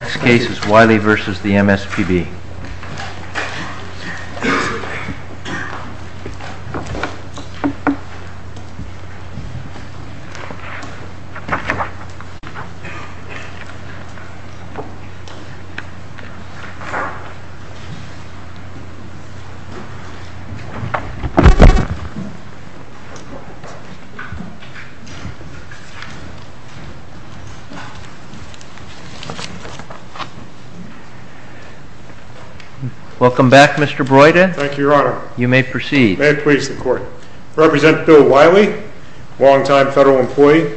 This case is Wiley v. MSPB Welcome back, Mr. Broyden. Thank you, your honor. You may proceed. May it please the court. I represent Bill Wiley, a long time federal employee.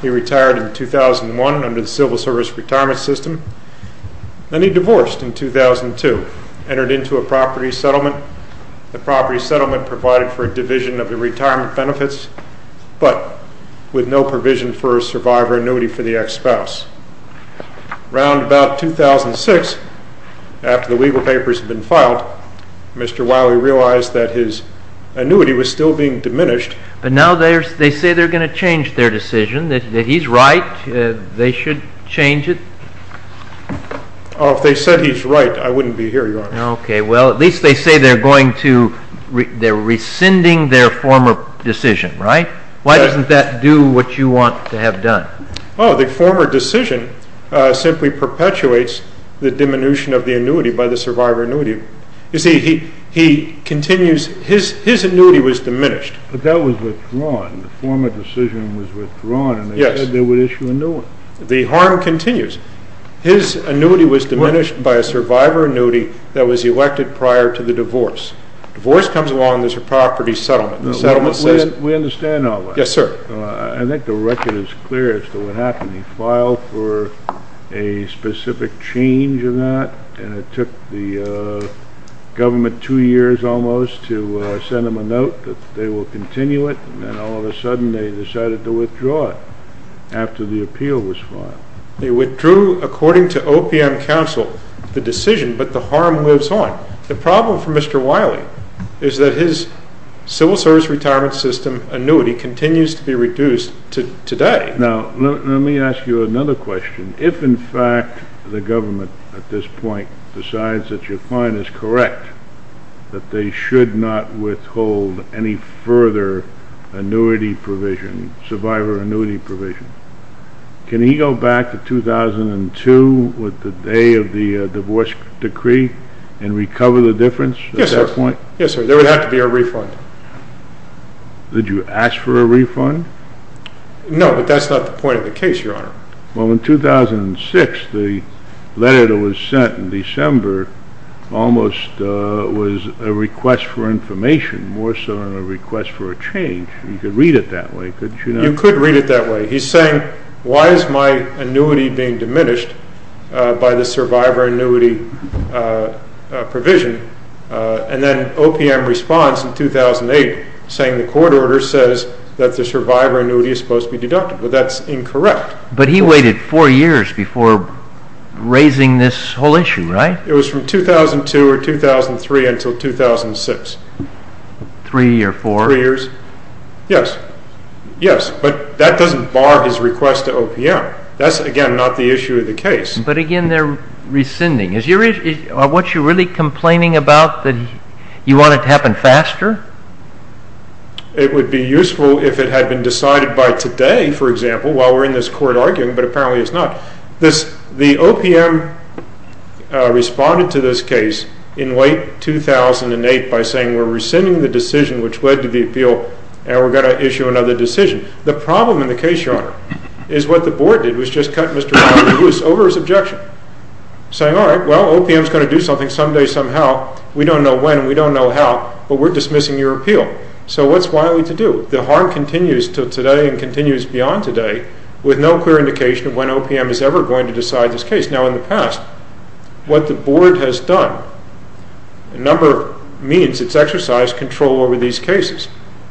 He retired in 2001 under the Civil Service Retirement System. Then he divorced in 2002, entered into a property settlement. The property settlement provided for a division of the retirement benefits, but with no provision for a survivor annuity for the ex-spouse. Around about 2006, after the legal papers had been filed, Mr. Wiley realized that his annuity was still being diminished. But now they say they're going to change their decision, that he's right, they should change it? Oh, if they said he's right, I wouldn't be here, your honor. Okay, well, at least they say they're going to, they're rescinding their former decision, right? Why doesn't that do what you want to have done? Oh, the former decision simply perpetuates the diminution of the annuity by the survivor annuity. You see, he continues, his annuity was diminished. But that was withdrawn, the former decision was withdrawn, and they said they would issue a new one. The harm continues. His annuity was diminished by a survivor annuity that was elected prior to the divorce. Divorce comes along, there's a property settlement. We understand all that. Yes, sir. I think the record is clear as to what happened. He filed for a specific change in that, and it took the government two years almost to send them a note that they will continue it, and then all of a sudden they decided to withdraw it after the appeal was filed. They withdrew, according to OPM counsel, the decision, but the harm lives on. The problem for Mr. Wiley is that his civil service retirement system annuity continues to be reduced today. Now, let me ask you another question. If, in fact, the government at this point decides that your client is correct, that they should not withhold any further annuity provision, survivor annuity provision, can he go back to 2002 with the day of the divorce decree and recover the difference at that point? Yes, sir. There would have to be a refund. Did you ask for a refund? No, but that's not the point of the case, Your Honor. Well, in 2006, the letter that was sent in December almost was a request for information, more so than a request for a change. You could read it that way. He's saying, why is my annuity being diminished by the survivor annuity provision? And then OPM responds in 2008 saying the court order says that the survivor annuity is supposed to be deducted. Well, that's incorrect. But he waited four years before raising this whole issue, right? It was from 2002 or 2003 until 2006. Three or four? Three or four years. Yes, yes, but that doesn't bar his request to OPM. That's, again, not the issue of the case. But, again, they're rescinding. Are you really complaining about that you want it to happen faster? It would be useful if it had been decided by today, for example, while we're in this court arguing, but apparently it's not. The OPM responded to this case in late 2008 by saying we're rescinding the decision which led to the appeal, and we're going to issue another decision. The problem in the case, Your Honor, is what the board did was just cut Mr. Wiley-Bruce over his objection, saying, all right, well, OPM is going to do something someday somehow. We don't know when and we don't know how, but we're dismissing your appeal. So what's Wiley-Bruce to do? The harm continues to today and continues beyond today with no clear indication of when OPM is ever going to decide this case. Now, in the past, what the board has done, a number of means, it's exercised control over these cases,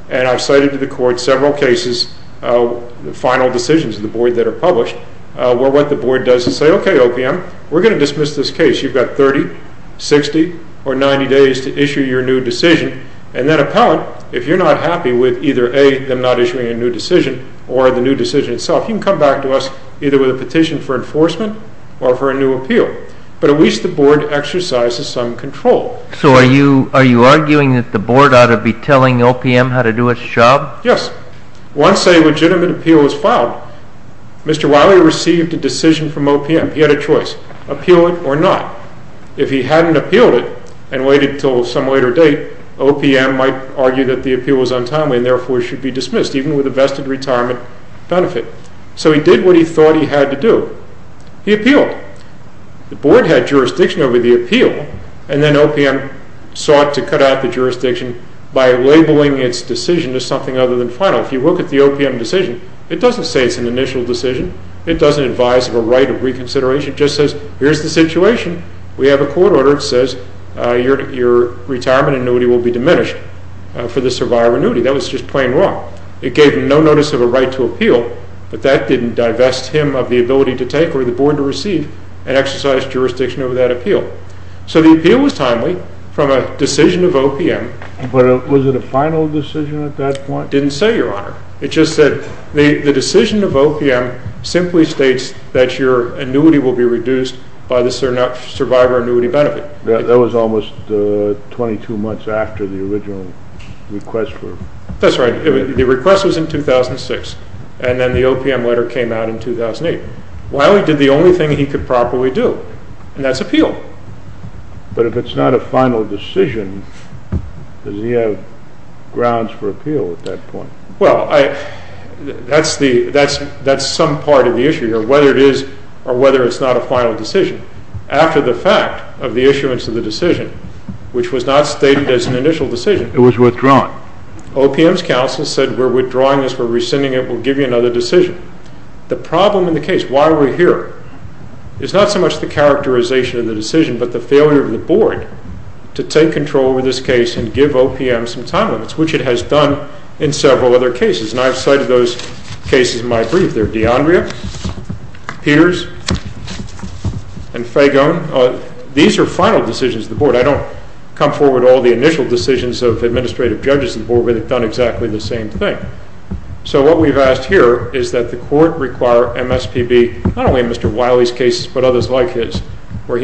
and I've cited to the court several cases, final decisions of the board that are published, where what the board does is say, okay, OPM, we're going to dismiss this case. You've got 30, 60, or 90 days to issue your new decision, and that appellant, if you're not happy with either, A, them not issuing a new decision or the new decision itself, you can come back to us either with a petition for enforcement or for a new appeal. But at least the board exercises some control. So are you arguing that the board ought to be telling OPM how to do its job? Yes. Once a legitimate appeal is filed, Mr. Wiley received a decision from OPM. He had a choice, appeal it or not. If he hadn't appealed it and waited until some later date, OPM might argue that the appeal was untimely and therefore should be dismissed, even with a vested retirement benefit. So he did what he thought he had to do. He appealed. The board had jurisdiction over the appeal, and then OPM sought to cut out the jurisdiction by labeling its decision as something other than final. If you look at the OPM decision, it doesn't say it's an initial decision. It doesn't advise of a right of reconsideration. It just says here's the situation. We have a court order that says your retirement annuity will be diminished for the survivor annuity. That was just plain wrong. It gave no notice of a right to appeal, but that didn't divest him of the ability to take or the board to receive and exercise jurisdiction over that appeal. So the appeal was timely from a decision of OPM. But was it a final decision at that point? It didn't say, Your Honor. It just said the decision of OPM simply states that your annuity will be reduced by the survivor annuity benefit. That was almost 22 months after the original request for it. That's right. The request was in 2006, and then the OPM letter came out in 2008. Wiley did the only thing he could properly do, and that's appeal. But if it's not a final decision, does he have grounds for appeal at that point? Well, that's some part of the issue here, whether it is or whether it's not a final decision. After the fact of the issuance of the decision, which was not stated as an initial decision. It was withdrawn. OPM's counsel said we're withdrawing this, we're rescinding it, we'll give you another decision. The problem in the case, why we're here, is not so much the characterization of the decision but the failure of the board to take control over this case and give OPM some time limits, which it has done in several other cases. And I've cited those cases in my brief. They're D'Andrea, Peters, and Fagone. These are final decisions of the board. I don't come forward to all the initial decisions of administrative judges of the board where they've done exactly the same thing. So what we've asked here is that the court require MSPB, not only in Mr. Wiley's case but others like his, where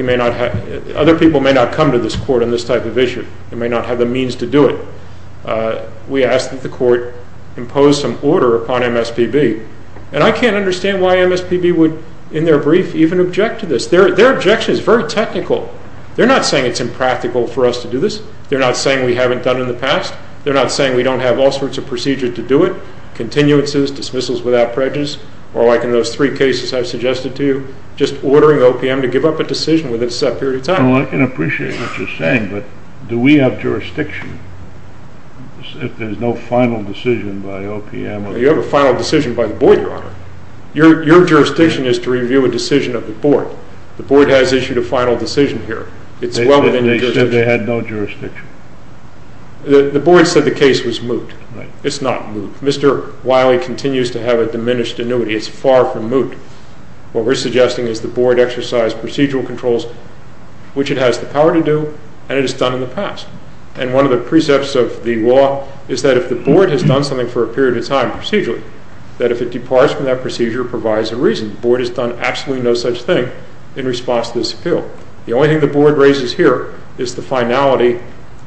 other people may not come to this court on this type of issue. They may not have the means to do it. We ask that the court impose some order upon MSPB. And I can't understand why MSPB would, in their brief, even object to this. Their objection is very technical. They're not saying it's impractical for us to do this. They're not saying we haven't done it in the past. They're not saying we don't have all sorts of procedures to do it, continuances, dismissals without prejudice, or like in those three cases I've suggested to you, just ordering OPM to give up a decision within a set period of time. Well, I can appreciate what you're saying, but do we have jurisdiction if there's no final decision by OPM? You have a final decision by the board, Your Honor. Your jurisdiction is to review a decision of the board. The board has issued a final decision here. They said they had no jurisdiction. The board said the case was moot. It's not moot. Mr. Wiley continues to have a diminished annuity. It's far from moot. What we're suggesting is the board exercise procedural controls, which it has the power to do, and it has done in the past. And one of the precepts of the law is that if the board has done something for a period of time procedurally, that if it departs from that procedure, it provides a reason. The board has done absolutely no such thing in response to this appeal. The only thing the board raises here is the finality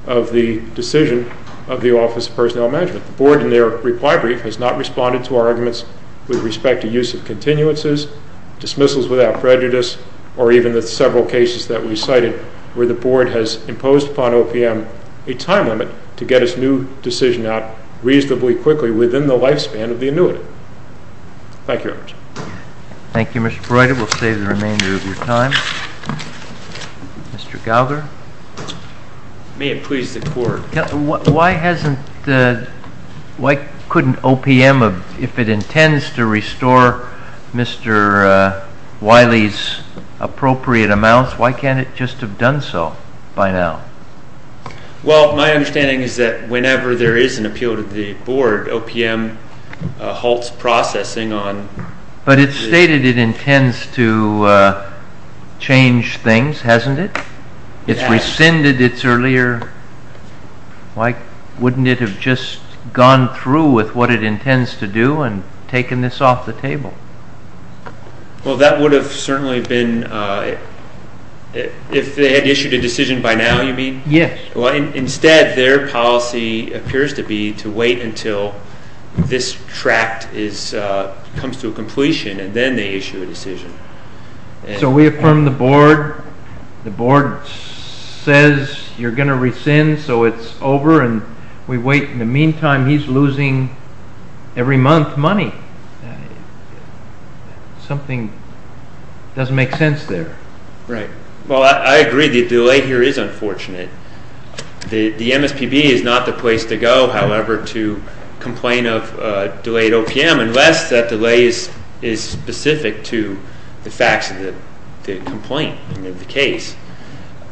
of the decision of the Office of Personnel Management. The board, in their reply brief, has not responded to our arguments with respect to use of continuances, dismissals without prejudice, or even the several cases that we cited where the board has imposed upon OPM a time limit to get its new decision out reasonably quickly within the lifespan of the annuitant. Thank you, Your Honor. Thank you, Mr. Breuder. We'll save the remainder of your time. Mr. Gallagher? May it please the Court. Why couldn't OPM, if it intends to restore Mr. Wiley's appropriate amounts, why can't it just have done so by now? Well, my understanding is that whenever there is an appeal to the board, OPM halts processing on it. But it's stated it intends to change things, hasn't it? It's rescinded its earlier... Why wouldn't it have just gone through with what it intends to do and taken this off the table? Well, that would have certainly been... If they had issued a decision by now, you mean? Yes. Well, instead, their policy appears to be to wait until this tract comes to a completion, and then they issue a decision. So we affirm the board. The board says you're going to rescind, so it's over, and we wait. In the meantime, he's losing, every month, money. Something doesn't make sense there. Right. Well, I agree the delay here is unfortunate. The MSPB is not the place to go, however, to complain of delayed OPM unless that delay is specific to the facts of the complaint, the case.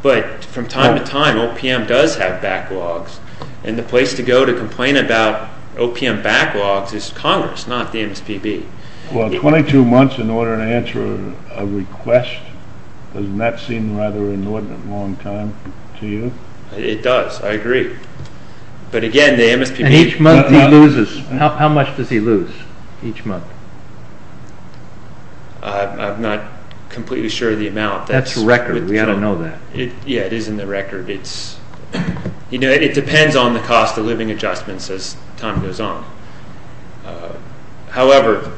But from time to time, OPM does have backlogs, and the place to go to complain about OPM backlogs is Congress, not the MSPB. Well, 22 months in order to answer a request, doesn't that seem rather an inordinate long time to you? It does. I agree. But again, the MSPB... And each month, he loses. How much does he lose each month? I'm not completely sure of the amount. That's record. We ought to know that. Yeah, it is in the record. It depends on the cost of living adjustments as time goes on. However,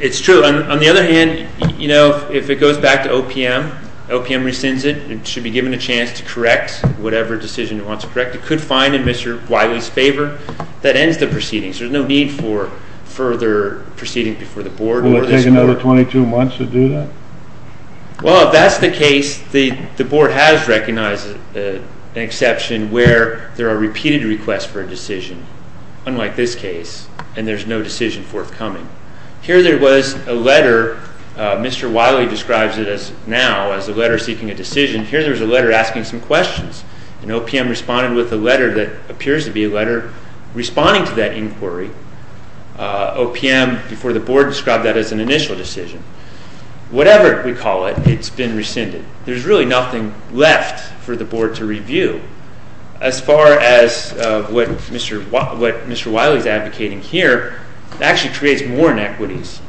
it's true. On the other hand, you know, if it goes back to OPM, OPM rescinds it. It should be given a chance to correct whatever decision it wants to correct. It could find, in Mr. Wiley's favor, that ends the proceedings. There's no need for further proceeding before the board or this board. Will it take another 22 months to do that? Well, if that's the case, the board has recognized an exception where there are repeated requests for a decision. Unlike this case, and there's no decision forthcoming. Here there was a letter. Mr. Wiley describes it now as a letter seeking a decision. Here there was a letter asking some questions. And OPM responded with a letter that appears to be a letter responding to that inquiry. OPM, before the board, described that as an initial decision. Whatever we call it, it's been rescinded. There's really nothing left for the board to review. As far as what Mr. Wiley's advocating here, it actually creates more inequities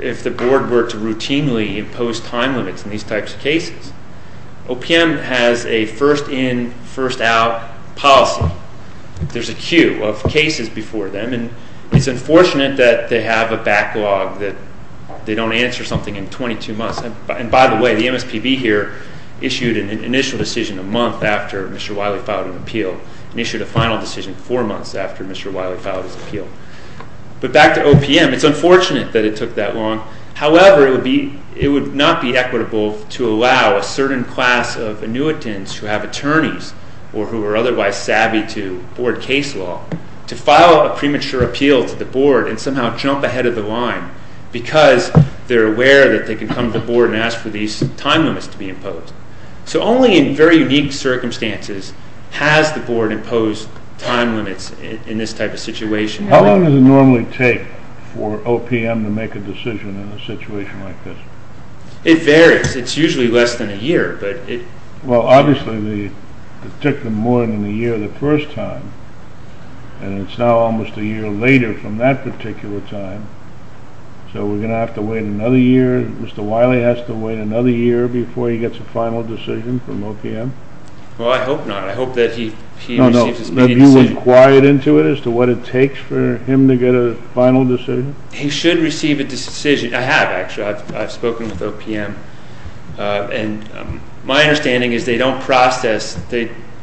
if the board were to routinely impose time limits in these types of cases. OPM has a first in, first out policy. There's a queue of cases before them. And it's unfortunate that they have a backlog that they don't answer something in 22 months. And by the way, the MSPB here issued an initial decision a month after Mr. Wiley filed an appeal. And issued a final decision four months after Mr. Wiley filed his appeal. But back to OPM, it's unfortunate that it took that long. However, it would not be equitable to allow a certain class of annuitants who have attorneys or who are otherwise savvy to board case law to file a premature appeal to the board and somehow jump ahead of the line because they're aware that they can come to the board and ask for these time limits to be imposed. So only in very unique circumstances has the board imposed time limits in this type of situation. How long does it normally take for OPM to make a decision in a situation like this? It varies. It's usually less than a year. Well, obviously, it took them more than a year the first time. And it's now almost a year later from that particular time. So we're going to have to wait another year. Mr. Wiley has to wait another year before he gets a final decision from OPM? Well, I hope not. I hope that he receives his immediate decision. Have you inquired into it as to what it takes for him to get a final decision? He should receive a decision. I have, actually. I've spoken with OPM. And my understanding is they don't process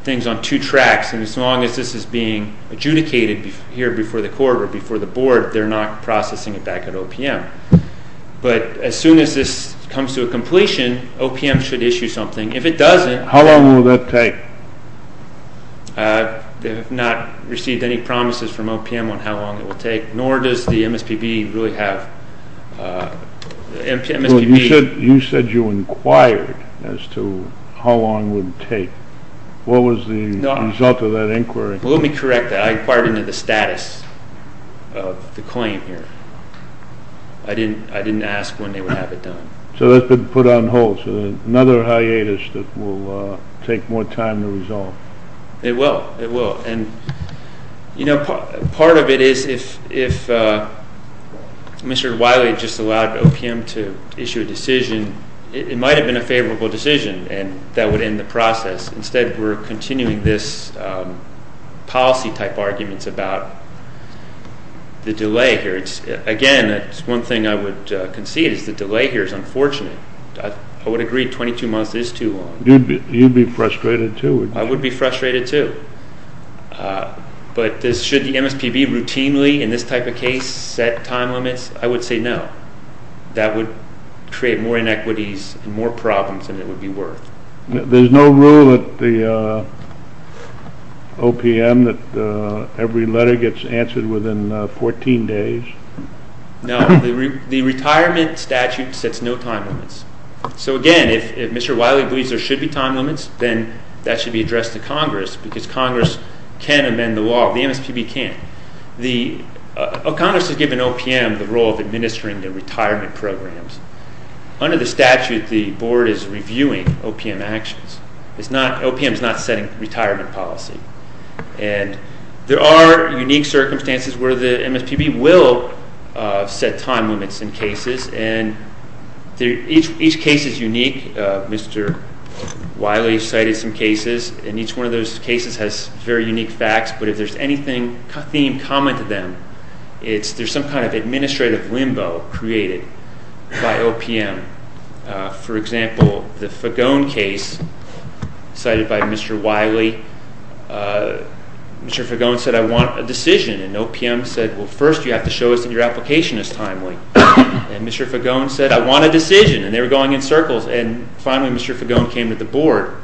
things on two tracks. And as long as this is being adjudicated here before the court or before the board, they're not processing it back at OPM. But as soon as this comes to a completion, OPM should issue something. If it doesn't… How long will that take? They have not received any promises from OPM on how long it will take, nor does the MSPB really have… You said you inquired as to how long it would take. What was the result of that inquiry? Let me correct that. I inquired into the status of the claim here. I didn't ask when they would have it done. So that's been put on hold. So another hiatus that will take more time to resolve. It will. It will. And, you know, part of it is if Mr. Wiley just allowed OPM to issue a decision, it might have been a favorable decision, and that would end the process. Instead, we're continuing this policy-type arguments about the delay here. Again, it's one thing I would concede is the delay here is unfortunate. I would agree 22 months is too long. You'd be frustrated too, wouldn't you? I would be frustrated too. But should the MSPB routinely in this type of case set time limits? I would say no. That would create more inequities and more problems than it would be worth. There's no rule at the OPM that every letter gets answered within 14 days. No. The retirement statute sets no time limits. So, again, if Mr. Wiley believes there should be time limits, then that should be addressed to Congress because Congress can amend the law. The MSPB can't. Congress has given OPM the role of administering the retirement programs. Under the statute, the Board is reviewing OPM actions. OPM is not setting retirement policy. And there are unique circumstances where the MSPB will set time limits in cases, and each case is unique. Mr. Wiley cited some cases, and each one of those cases has very unique facts. But if there's anything theme common to them, it's there's some kind of administrative limbo created by OPM. For example, the Fagone case cited by Mr. Wiley. Mr. Fagone said, I want a decision. And OPM said, well, first you have to show us that your application is timely. And Mr. Fagone said, I want a decision. And they were going in circles. And finally Mr. Fagone came to the Board.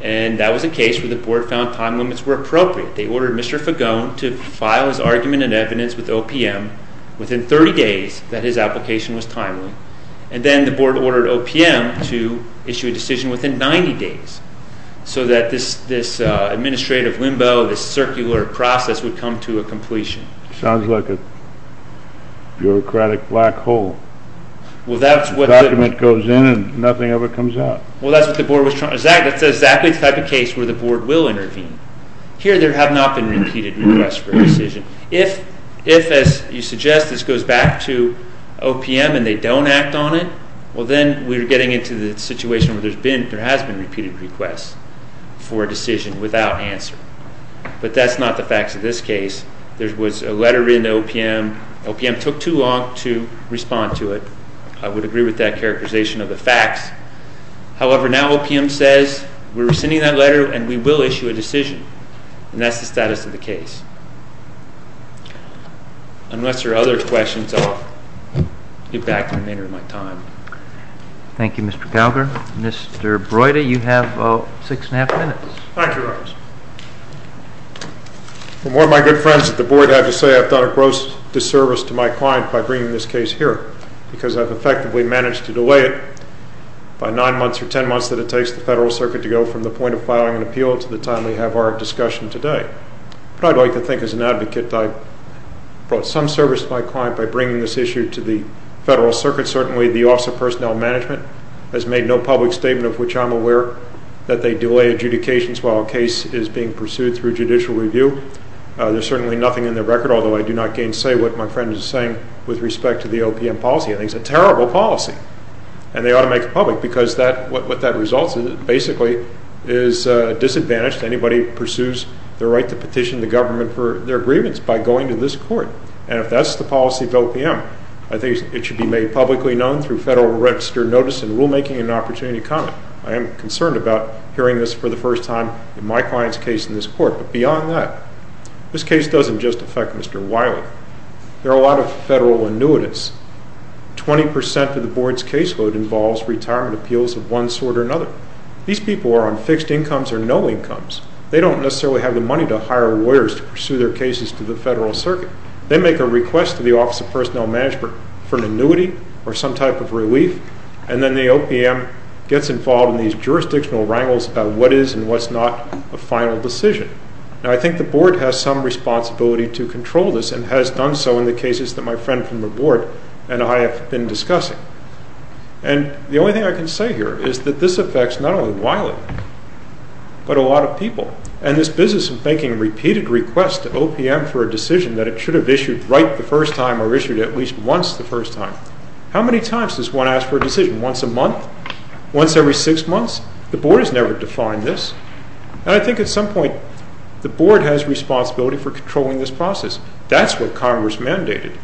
And that was a case where the Board found time limits were appropriate. They ordered Mr. Fagone to file his argument and evidence with OPM within 30 days that his application was timely. And then the Board ordered OPM to issue a decision within 90 days so that this administrative limbo, this circular process, would come to a completion. It sounds like a bureaucratic black hole. The document goes in and nothing ever comes out. Well, that's exactly the type of case where the Board will intervene. Here there have not been repeated requests for a decision. If, as you suggest, this goes back to OPM and they don't act on it, well, then we're getting into the situation where there has been repeated requests for a decision without answer. But that's not the facts of this case. There was a letter written to OPM. OPM took too long to respond to it. I would agree with that characterization of the facts. However, now OPM says we're rescinding that letter and we will issue a decision. And that's the status of the case. Unless there are other questions, I'll get back to you later in my time. Thank you, Mr. Gallagher. Mr. Broida, you have six and a half minutes. Thank you, Representative. Well, more of my good friends at the Board have to say I've done a gross disservice to my client by bringing this case here because I've effectively managed to delay it by nine months or ten months that it takes the Federal Circuit to go from the point of filing an appeal to the time we have our discussion today. But I'd like to think as an advocate I've brought some service to my client by bringing this issue to the Federal Circuit. Certainly the Office of Personnel Management has made no public statement of which I'm aware that they delay adjudications while a case is being pursued through judicial review. There's certainly nothing in their record, although I do not gainsay what my friend is saying with respect to the OPM policy. I think it's a terrible policy, and they ought to make it public because what that results in basically is a disadvantage to anybody who pursues the right to petition the government for their grievance by going to this court. And if that's the policy of OPM, I think it should be made publicly known through Federal Register notice and rulemaking and opportunity comment. I am concerned about hearing this for the first time in my client's case in this court. But beyond that, this case doesn't just affect Mr. Wiley. There are a lot of Federal annuitants. Twenty percent of the Board's caseload involves retirement appeals of one sort or another. These people are on fixed incomes or no incomes. They don't necessarily have the money to hire lawyers to pursue their cases to the Federal Circuit. They make a request to the Office of Personnel Management for an annuity or some type of relief, and then the OPM gets involved in these jurisdictional wrangles about what is and what's not a final decision. Now I think the Board has some responsibility to control this, and has done so in the cases that my friend from the Board and I have been discussing. And the only thing I can say here is that this affects not only Wiley, but a lot of people. And this business of making repeated requests to OPM for a decision that it should have issued right the first time or issued at least once the first time, how many times does one ask for a decision? Once a month? Once every six months? The Board has never defined this. And I think at some point the Board has responsibility for controlling this process. That's what Congress mandated.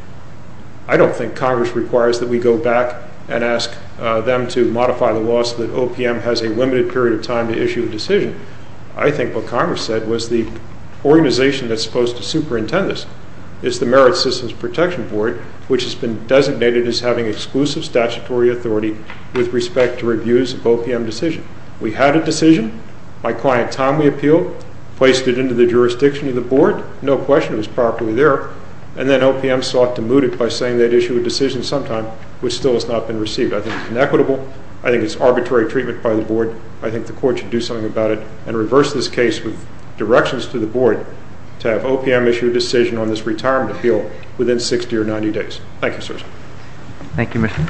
I don't think Congress requires that we go back and ask them to modify the law so that OPM has a limited period of time to issue a decision. I think what Congress said was the organization that's supposed to superintend this is the Merit Systems Protection Board, which has been designated as having exclusive statutory authority with respect to reviews of OPM decisions. We had a decision. My client, Tom, we appealed, placed it into the jurisdiction of the Board. No question it was properly there. And then OPM sought to moot it by saying they'd issue a decision sometime, which still has not been received. I think it's inequitable. I think it's arbitrary treatment by the Board. I think the Court should do something about it and reverse this case with directions to the Board to have OPM issue a decision on this retirement appeal within 60 or 90 days. Thank you, sirs. Thank you, Mr. Breuder. That concludes our morning. All rise.